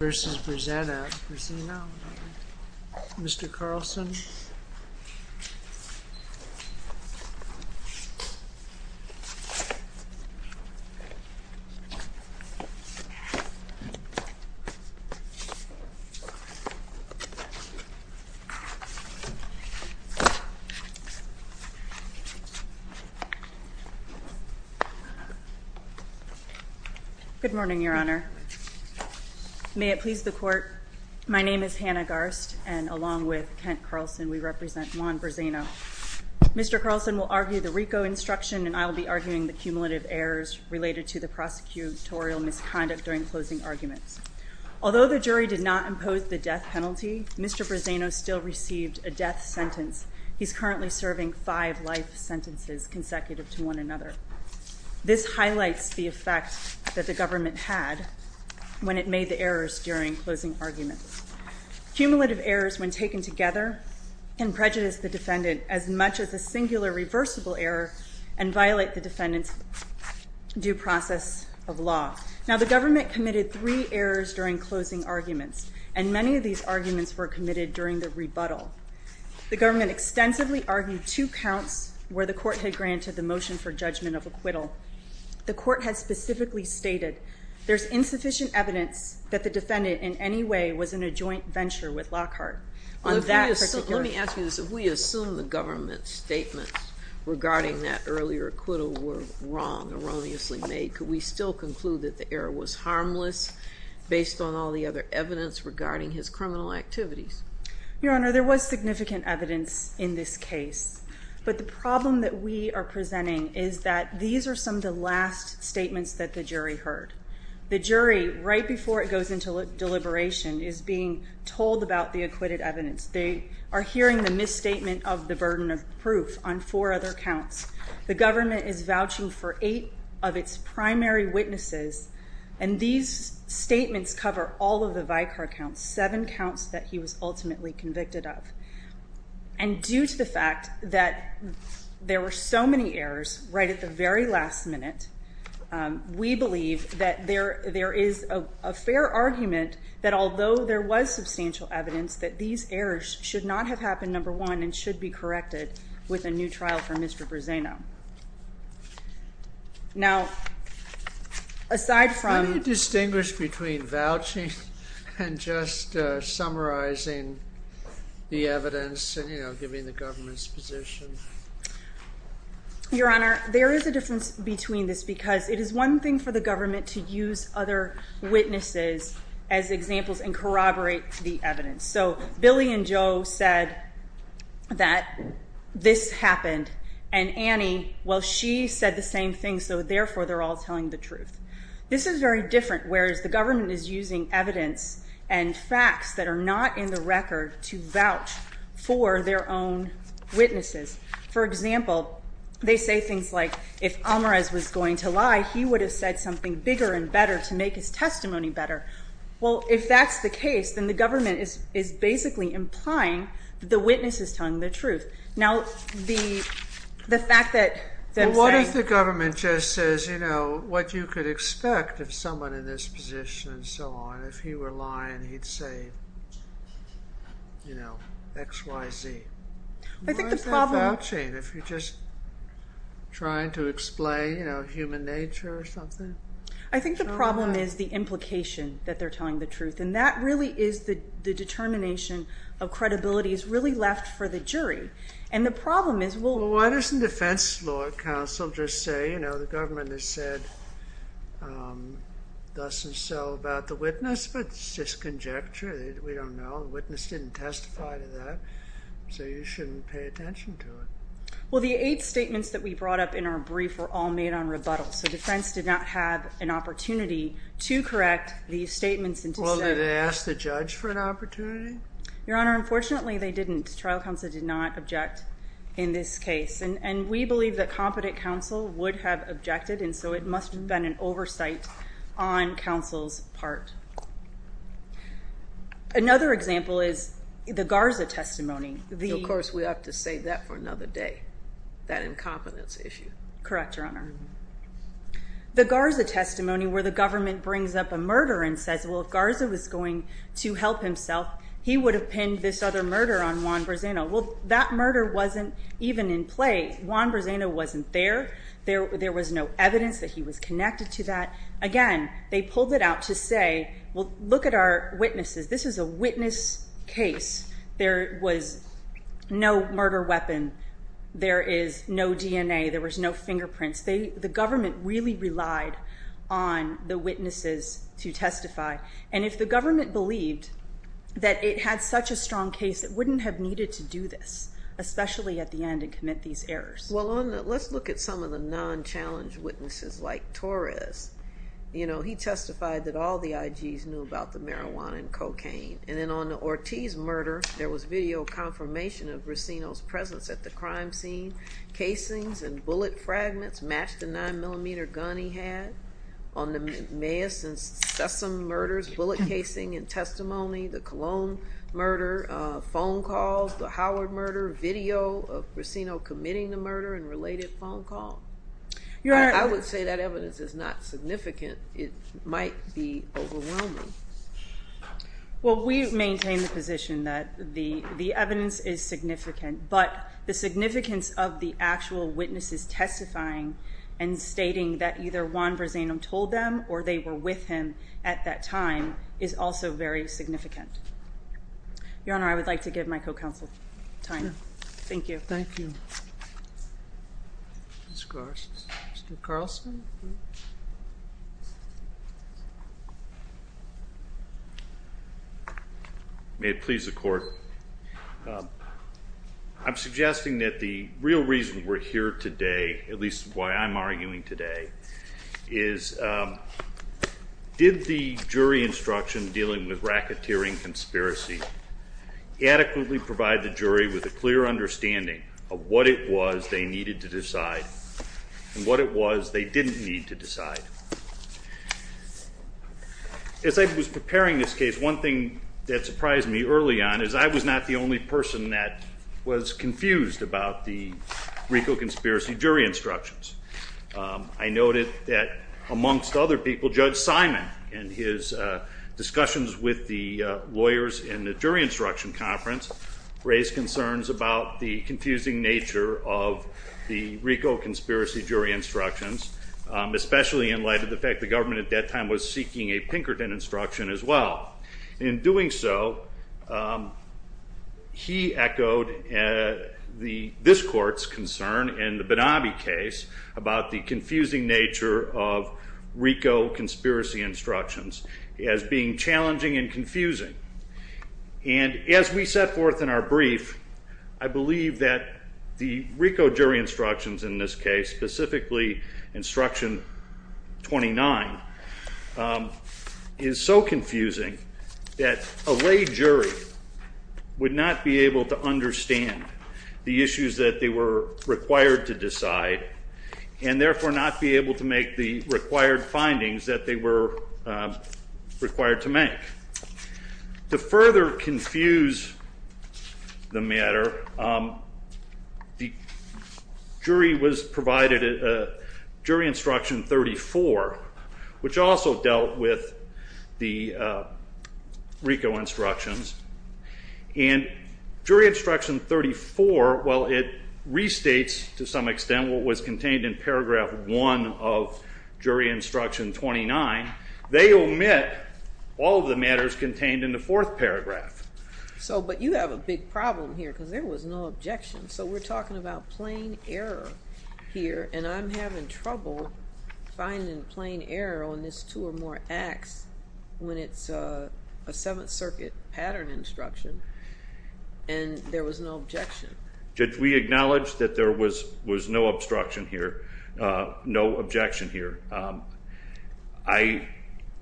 v. Brizena. Mr. Carlson. Good morning, Your Honor. May it please the Court, my name is Hannah Garst, and along with Kent Carlson we represent Juan Briseno. Mr. Carlson will argue the RICO instruction and I'll be arguing the cumulative errors related to the prosecutorial misconduct during closing arguments. Although the jury did not impose the death penalty, Mr. Briseno still received a death sentence. He's currently serving five life sentences consecutive to one another. This highlights the effect that the government had when it made the errors during closing arguments. Cumulative errors when taken together can prejudice the defendant as much as a singular reversible error and violate the defendant's due process of law. Now the government committed three errors during closing arguments and many of these arguments were committed during the rebuttal. The government extensively argued two counts where the court had granted the motion for judgment of acquittal. The court had specifically stated there's insufficient evidence that the defendant in any way was in a joint venture with Lockhart. Let me ask you this, if we assume the government's statements regarding that earlier acquittal were wrong, erroneously made, could we still conclude that the error was harmless based on all the other evidence regarding his criminal activities? Your Honor, there was significant evidence in this case, but the problem that we are presenting is that these are some of the last statements that the jury heard. The jury, right before it goes into deliberation, is being told about the acquitted evidence. They are hearing the misstatement of the burden of proof on four other counts. The government is vouching for eight of its primary witnesses and these statements cover all of the Vicar counts, seven counts that he was ultimately convicted of. And due to the fact that there were so many errors right at the very last minute, we believe that there is a fair argument that although there was substantial evidence that these errors should not have happened, number one, and should be corrected with a new trial for Mr. Bruzzano. Now, aside from... Can you distinguish between vouching and just summarizing the evidence and giving the government's position? Your Honor, there is a difference between this because it is one thing for the government to use other witnesses as examples and corroborate the evidence. So, Billy and Joe said that this happened and Annie, well, she said the same thing, so therefore they're all telling the truth. This is very different, whereas the government is using evidence and facts that are not in the record to vouch for their own witnesses. For example, they say things like, if Almaraz was going to lie, he would have said something bigger and better to make his testimony better. Well, if that's the case, then the government is basically implying the witness is telling the truth. Now, the fact that... Well, what if the government just says, you know, what you could expect of someone in this position and so on. If he were lying, he'd say, you know, X, Y, Z. I think the problem... Why is that vouching if you're just trying to explain, you know, human nature or something? I think the problem is the implication that they're telling the truth, and that really is the determination of credibility is really left for the jury. And the problem is, well... Doesn't defense law counsel just say, you know, the government has said thus and so about the witness, but it's just conjecture. We don't know. The witness didn't testify to that, so you shouldn't pay attention to it. Well, the eight statements that we brought up in our brief were all made on rebuttal, so defense did not have an opportunity to correct these statements and to say... Well, did they ask the judge for an opportunity? Your Honor, unfortunately, they didn't. Trial counsel did not object in this case. And we believe that competent counsel would have objected, and so it must have been an oversight on counsel's part. Another example is the Garza testimony. Of course, we have to save that for another day, that incompetence issue. Correct, Your Honor. The Garza testimony where the government brings up a murder and says, well, if Garza was going to help himself, he would have pinned this other murder on Juan Brezano. Well, that murder wasn't even in play. Juan Brezano wasn't there. There was no evidence that he was connected to that. Again, they pulled it out to say, well, look at our witnesses. This is a witness case. There was no murder weapon. There is no DNA. There was no fingerprints. The government really relied on the witnesses to testify. And if the government believed that it had such a strong case, it wouldn't have needed to do this, especially at the end and commit these errors. Well, let's look at some of the non-challenged witnesses, like Torres. He testified that all the IGs knew about the marijuana and cocaine. And then on the Ortiz murder, there was video confirmation of Brezano's presence at the crime scene. Casings and bullet fragments matched the 9mm gun he had. On the Maes and Sessom murders, bullet casing and testimony, the Cologne murder, phone calls, the Howard murder, video of Brezano committing the murder and related phone calls. I would say that evidence is not significant. It might be overwhelming. Well, we maintain the position that the evidence is significant, but the significance of the actual witnesses testifying and stating that either Juan Brezano told them or they were with him at that time is also very significant. Your Honor, I would like to give my co-counsel time. Thank you. Thank you. Mr. Carlson? May it please the Court. I'm suggesting that the real reason we're here today, at least why I'm arguing today, is did the jury instruction dealing with racketeering conspiracy adequately provide the jury with a clear understanding of what it was they needed to decide and what it was they didn't need to decide? As I was preparing this case, one thing that surprised me early on is I was not the only person that was confused about the RICO conspiracy jury instructions. I noted that amongst other people, Judge Simon and his discussions with the lawyers in the jury instruction conference raised concerns about the confusing nature of the RICO conspiracy jury instructions, especially in light of the fact the government at that time was seeking a Pinkerton instruction as well. In doing so, he echoed this Court's concern in the Benabi case about the confusing nature of RICO conspiracy instructions as being challenging and confusing. As we set forth in our brief, I believe that the RICO jury instructions in this case, specifically instruction 29, is so confusing that a lay jury would not be able to understand the issues that they were required to decide and therefore not be able to make the required findings that they were required to make. To further confuse the matter, the jury was provided a jury instruction 34, which also dealt with the RICO instructions. And jury instruction 34, while it restates to some extent what was contained in paragraph 1 of jury instruction 29, they omit all of the matters contained in the fourth paragraph. So, but you have a big problem here because there was no objection. So we're talking about plain error here and I'm having trouble finding plain error on this two or more acts when it's a Seventh Circuit pattern instruction and there was no objection. Judge, we acknowledge that there was no obstruction here, no objection here. I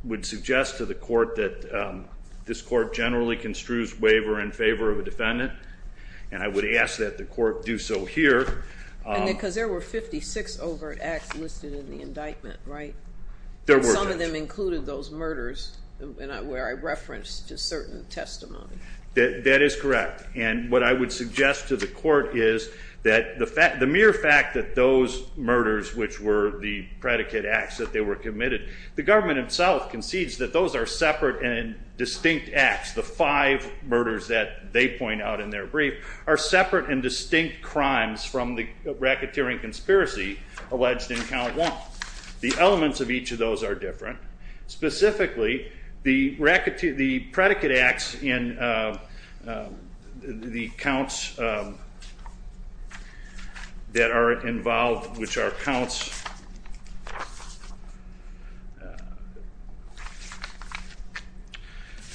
would suggest to the Court that this Court generally construes waiver in favor of a defendant and I would ask that the Court do so here. And because there were 56 overt acts listed in the indictment, right? There were. And some of them included those murders where I referenced a certain testimony. That is correct. And what I would suggest to the Court is that the mere fact that those murders, which were the predicate acts that they were committed, the government itself concedes that those are separate and distinct acts. The five murders that they point out in their brief are separate and distinct crimes from the racketeering conspiracy alleged in count one. The elements of each of those are different. Specifically, the predicate acts in the counts that are involved, which are counts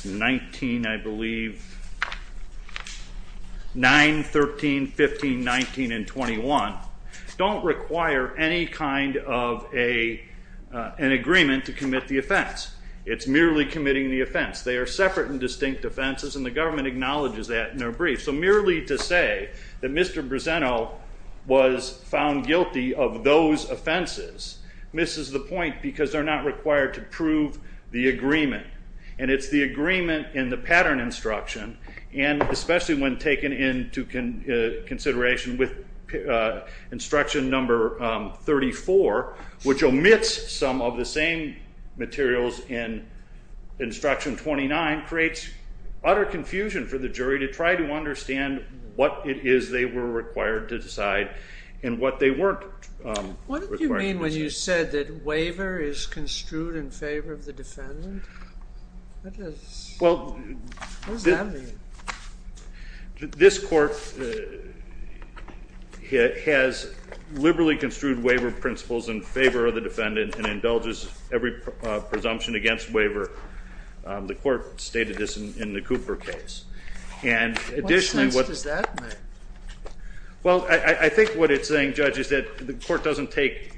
19, I believe, 9, 13, 15, 19, and 21, don't require any kind of an agreement to commit to a predicate offense. It's merely committing the offense. They are separate and distinct offenses and the government acknowledges that in their brief. So merely to say that Mr. Breseno was found guilty of those offenses misses the point because they're not required to prove the agreement. And it's the agreement in the pattern instruction, and especially when taken into consideration with instruction number 34, which omits some of the same material in instruction 29, creates utter confusion for the jury to try to understand what it is they were required to decide and what they weren't required to decide. What did you mean when you said that waiver is construed in favor of the defendant? This Court has liberally construed waiver principles in favor of the defendant and indulges every presumption against waiver. The Court stated this in the Cooper case. What sense does that make? Well, I think what it's saying, Judge, is that the Court doesn't take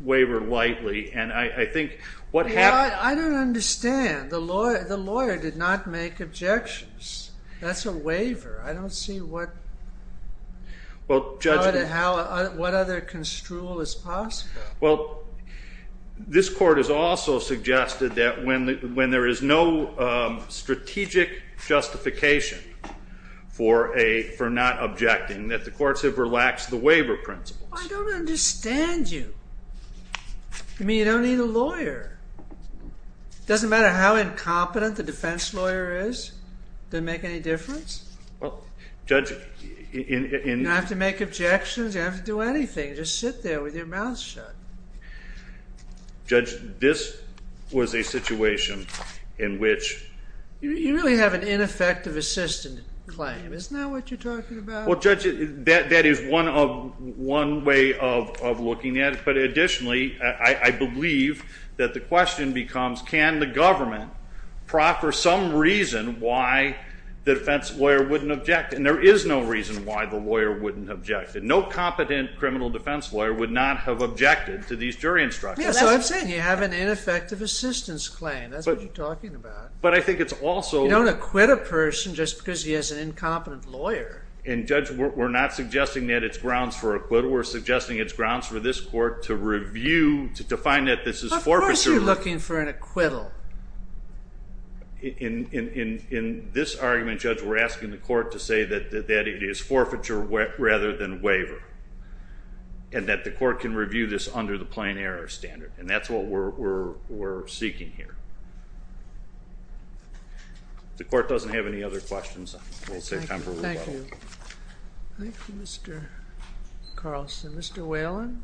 waiver lightly, and I think what happened- I don't understand. The lawyer did not make objections. That's a waiver. I don't see what other construal is possible. Well, this Court has also suggested that when there is no strategic justification for not objecting, that the Courts have relaxed the waiver principles. I don't understand you. You mean you don't need a lawyer? It doesn't matter how incompetent the defense lawyer is? Does it make any difference? Well, Judge- You don't have to make objections. You don't have to do anything. Just sit there with your mouth shut. Judge, this was a situation in which- You really have an ineffective assistant claim. Isn't that what you're talking about? Well, Judge, that is one way of looking at it, but additionally, I believe that the question becomes can the government proffer some reason why the defense lawyer wouldn't object, and there is no reason why the lawyer wouldn't object. No competent criminal defense lawyer would not have objected to these jury instructions. Yes, so I'm saying you have an ineffective assistance claim. That's what you're talking about. But I think it's also- You don't acquit a person just because he has an incompetent lawyer. And Judge, we're not suggesting that it's grounds for acquittal. We're suggesting it's grounds for this Court to review, to find that this is forfeiture- Of course you're looking for an acquittal. In this argument, Judge, we're asking the Court to say that it is forfeiture rather than waiver, and that the Court can review this under the plain error standard, and that's what we're seeking here. The Court doesn't have any other questions. We'll save time for rebuttal. Thank you. Thank you, Mr. Carlson. Mr. Whelan?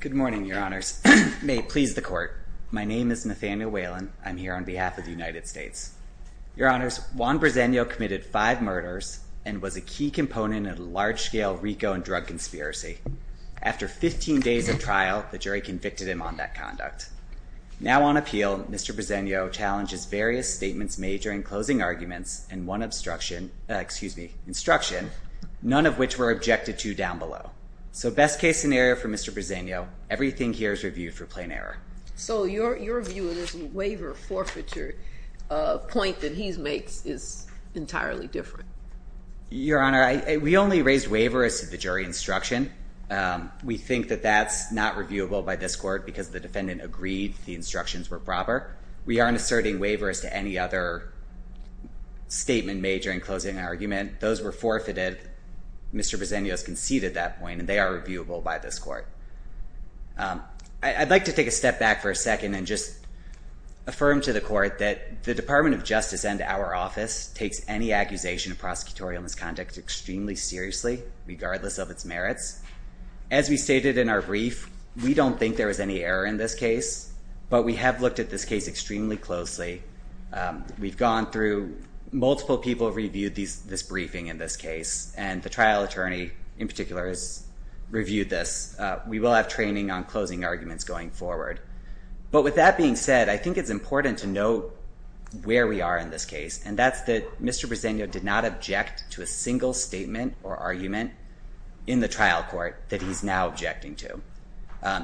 Good morning, Your Honors. May it please the Court, my name is Nathaniel Whelan. I'm here on behalf of the United States. Your Honors, Juan Bresenio committed five murders and was a key component in a large-scale RICO and drug conspiracy. After 15 days of trial, the jury convicted him on that conduct. Now on appeal, Mr. Bresenio challenges various statements made during closing arguments and one obstruction- excuse me, instruction, none of which were So best-case scenario for Mr. Bresenio, everything here is reviewed for plain error. So your view of this waiver forfeiture point that he makes is entirely different. Your Honor, we only raised waiver as to the jury instruction. We think that that's not reviewable by this Court because the defendant agreed the instructions were proper. We aren't asserting waiver as to any other statement made during closing argument. Those were forfeited. Mr. Bresenio has conceded that point and they are reviewable by this Court. I'd like to take a step back for a second and just affirm to the Court that the Department of Justice and our office takes any accusation of prosecutorial misconduct extremely seriously regardless of its merits. As we stated in our brief, we don't think there was any error in this case, but we have looked at this case extremely closely. We've gone through- multiple people reviewed this briefing in this case, and the trial attorney in particular has reviewed this. We will have training on closing arguments going forward. But with that being said, I think it's important to note where we are in this case, and that's that Mr. Bresenio did not object to a single statement or argument in the trial court that he's now objecting to.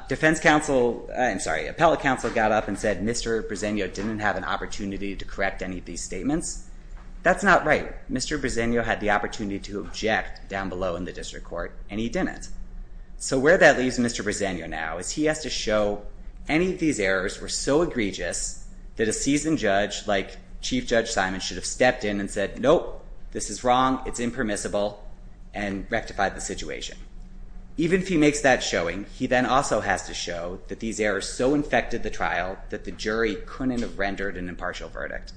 Defense counsel- I'm sorry, appellate counsel got up and said Mr. Bresenio didn't have an opportunity to correct any of these statements. That's not right. Mr. Bresenio had the opportunity to object down below in the district court, and he didn't. So where that leaves Mr. Bresenio now is he has to show any of these errors were so egregious that a seasoned judge like Chief Judge Simon should have stepped in and said, nope, this is wrong, it's impermissible, and rectified the situation. Even if he makes that showing, he then also has to show that these errors so infected the trial that the jury couldn't have rendered an impartial verdict.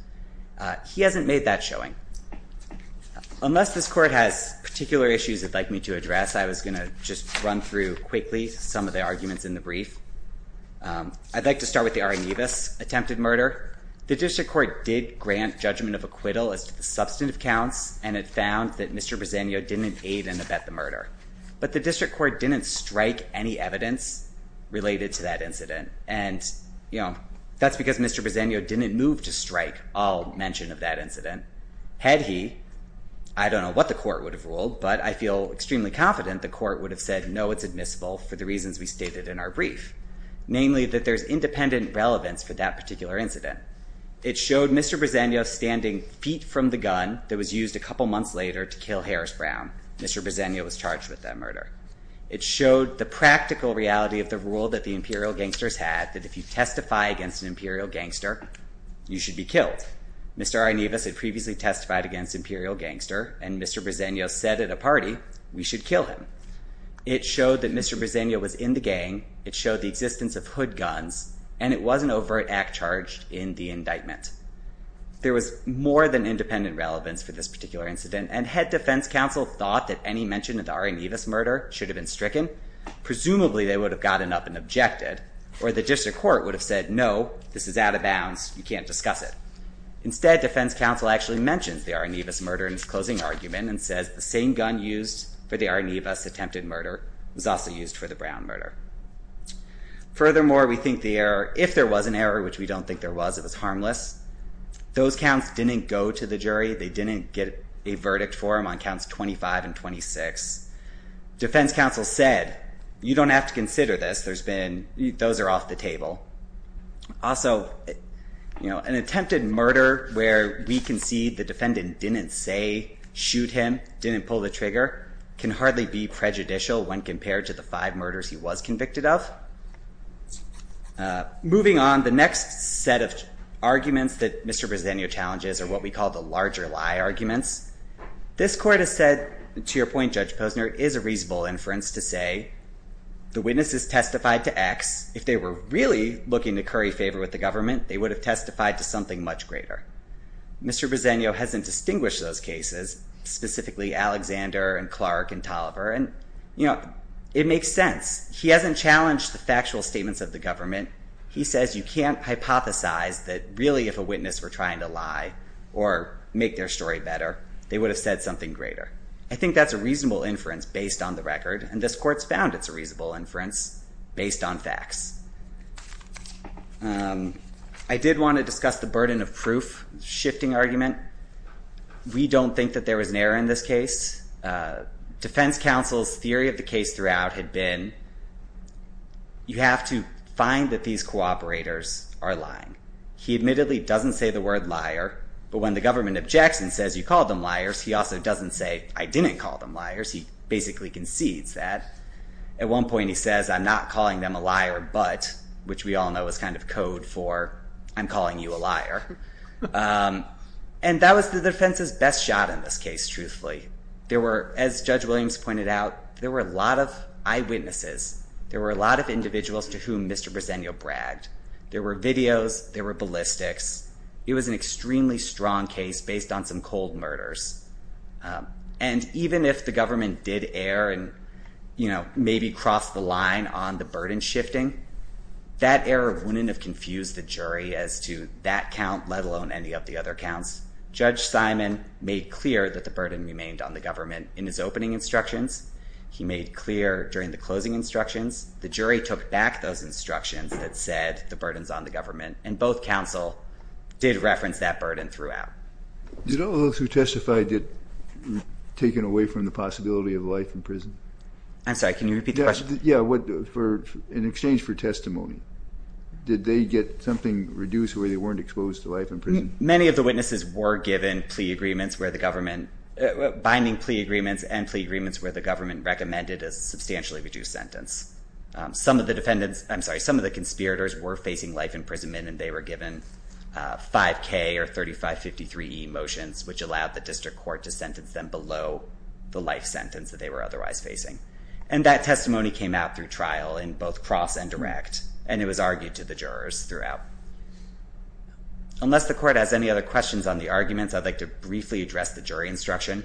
He hasn't made that showing. Unless this court has particular issues it'd like me to address, I was going to just run through quickly some of the arguments in the brief. I'd like to start with the Aranevus attempted murder. The district court did grant judgment of acquittal as to the substantive counts, and it found that Mr. Bresenio didn't aid and abet the murder. But the district court didn't strike any evidence related to that incident, and that's because Mr. Bresenio didn't move to strike all mention of that incident. Had he, I don't know what the court would have ruled, but I feel extremely confident the court would have said, no, it's admissible for the reasons we stated in our brief, namely that there's independent relevance for that particular incident. It showed Mr. Bresenio standing feet from the gun that was used a couple months later to kill Harris Brown. Mr. Bresenio was charged with that murder. It showed the practical reality of the rule that the imperial gangsters had, that if you testify against an imperial gangster, you should be killed. Mr. Aranevus had previously testified against imperial gangster, and Mr. Bresenio said at a party, we should kill him. It showed that Mr. Bresenio was in the gang, it showed the existence of hood guns, and it was an overt act charged in the indictment. There was more than independent relevance for this particular incident, and head defense counsel thought that any mention of the Aranevus murder should have been stricken. Presumably they would have gotten up and objected, or the district court would have said, no, this is out of bounds, you can't discuss it. Instead, defense counsel actually mentions the Aranevus murder in its closing argument and says the same gun used for the Aranevus attempted murder was also used for the Brown murder. Furthermore, we think the error, if there was an error, which we don't think there was, it was harmless. Those counts didn't go to the jury, they didn't get a verdict for them on counts 25 and 26. Defense counsel said, you don't have to consider this, those are off the table. Also, an attempted murder where we concede the defendant didn't say, shoot him, didn't pull the trigger, can hardly be prejudicial when compared to the five murders he was convicted of. Moving on, the next set of arguments that Mr. Bresenio challenges are what we call the story to set. To your point, Judge Posner, it is a reasonable inference to say the witnesses testified to X. If they were really looking to curry favor with the government, they would have testified to something much greater. Mr. Bresenio hasn't distinguished those cases, specifically Alexander and Clark and Tolliver. It makes sense. He hasn't challenged the factual statements of the government. He says you can't hypothesize that really if a witness were trying to lie or make their story better, they would have said something greater. I think that's a reasonable inference based on the record, and this court's found it's a reasonable inference based on facts. I did want to discuss the burden of proof shifting argument. We don't think that there was an error in this case. Defense counsel's theory of the case throughout had been, you have to find that these cooperators are lying. He admittedly doesn't say the word liar, but when the government objects and says you called them liars, he also doesn't say I didn't call them liars. He basically concedes that. At one point he says I'm not calling them a liar, but, which we all know is kind of code for I'm calling you a liar. That was the defense's best shot in this case, truthfully. As Judge Williams pointed out, there were a lot of eyewitnesses. There were a lot of individuals to whom Mr. Bresenio bragged. There were videos. There were ballistics. It was an extremely strong case based on some cold murders. Even if the government did err and maybe cross the line on the burden shifting, that error wouldn't have confused the jury as to that count, let alone any of the other counts. Judge Simon made clear that the burden remained on the government in his opening instructions. He made clear during the closing instructions, the jury took back those instructions that said the burden's on the government, and both counsel did reference that burden throughout. Did all those who testified get taken away from the possibility of life in prison? I'm sorry, can you repeat the question? Yeah, in exchange for testimony. Did they get something reduced where they weren't exposed to life in prison? Many of the witnesses were given plea agreements where the government, binding plea agreements where the government recommended a substantially reduced sentence. Some of the conspirators were facing life in prison and they were given 5K or 3553E motions, which allowed the district court to sentence them below the life sentence that they were otherwise facing. That testimony came out through trial in both cross and direct, and it was argued to the jurors throughout. Unless the court has any other questions on the arguments, I'd like to briefly address the jury instruction.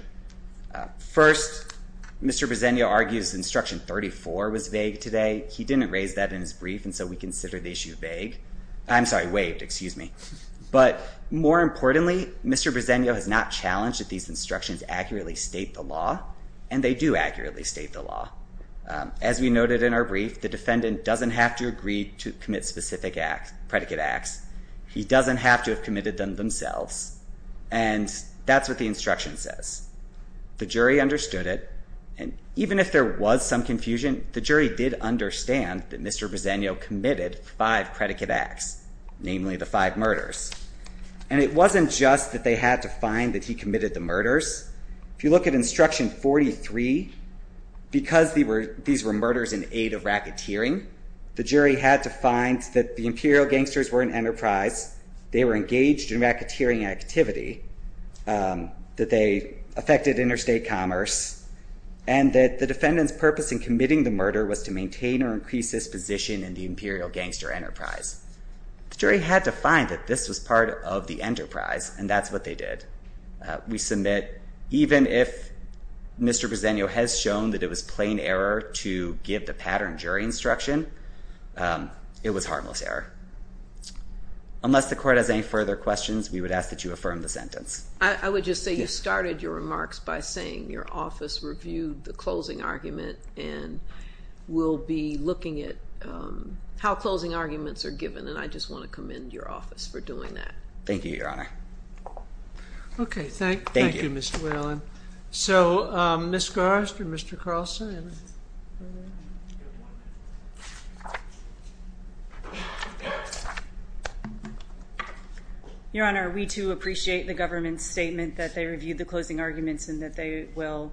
First, Mr. Bresenio argues instruction 34 was vague today. He didn't raise that in his brief, and so we consider the issue vague. I'm sorry, waived, excuse me. But more importantly, Mr. Bresenio has not challenged that these instructions accurately state the law, and they do accurately state the law. As we noted in our brief, the defendant doesn't have to agree to commit specific predicate acts. He doesn't have to commit them themselves, and that's what the instruction says. The jury understood it, and even if there was some confusion, the jury did understand that Mr. Bresenio committed five predicate acts, namely the five murders. And it wasn't just that they had to find that he committed the murders. If you look at instruction 43, because these were murders in aid of racketeering, the jury had to find that the imperial gangsters were an enterprise, they were engaged in racketeering activity, that they affected interstate commerce, and that the defendant's purpose in committing the murder was to maintain or increase his position in the imperial gangster enterprise. The jury had to find that this was part of the enterprise, and that's what they did. We submit, even if Mr. Bresenio has shown that it was plain error to give the pattern jury instruction, it was harmless error. Unless the court has any further questions, we would ask that you affirm the sentence. I would just say you started your remarks by saying your office reviewed the closing argument, and we'll be looking at how closing arguments are given, and I just want to commend your office for doing that. Thank you, Your Honor. Your Honor, we too appreciate the government's statement that they reviewed the closing arguments and that they will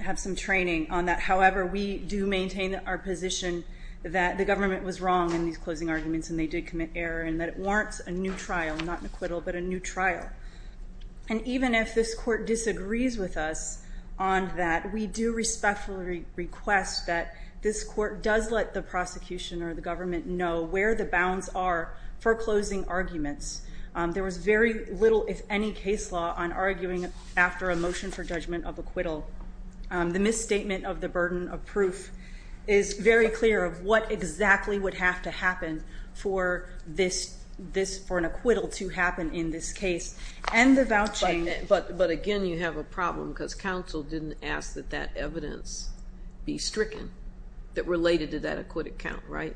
have some training on that. However, we do maintain our position that the government was wrong in these closing arguments and they did commit error, and that it warrants a new trial, not an acquittal, but a new trial. And even if this court disagrees with us on that, we do respectfully request that this court does let the prosecution or the government know where the bounds are for closing arguments. There was very little, if any, case law on arguing after a motion for judgment of acquittal. The misstatement of the burden of proof is very clear of what exactly would have to happen for an acquittal to happen in this case. But again, you have a problem because counsel didn't ask that that evidence be stricken that related to that acquittal count, right?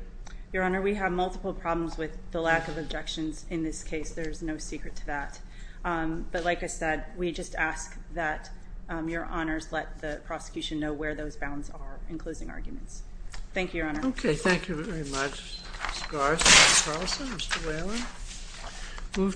Your Honor, we have multiple problems with the lack of objections in this case. There's no secret to that. But like I said, we just ask that Your Honors let the prosecution know where those bounds are in closing arguments. Thank you, Your Honor. Okay, thank you very much, Ms. Garrison, Mr. Carlson, Mr. Whalen.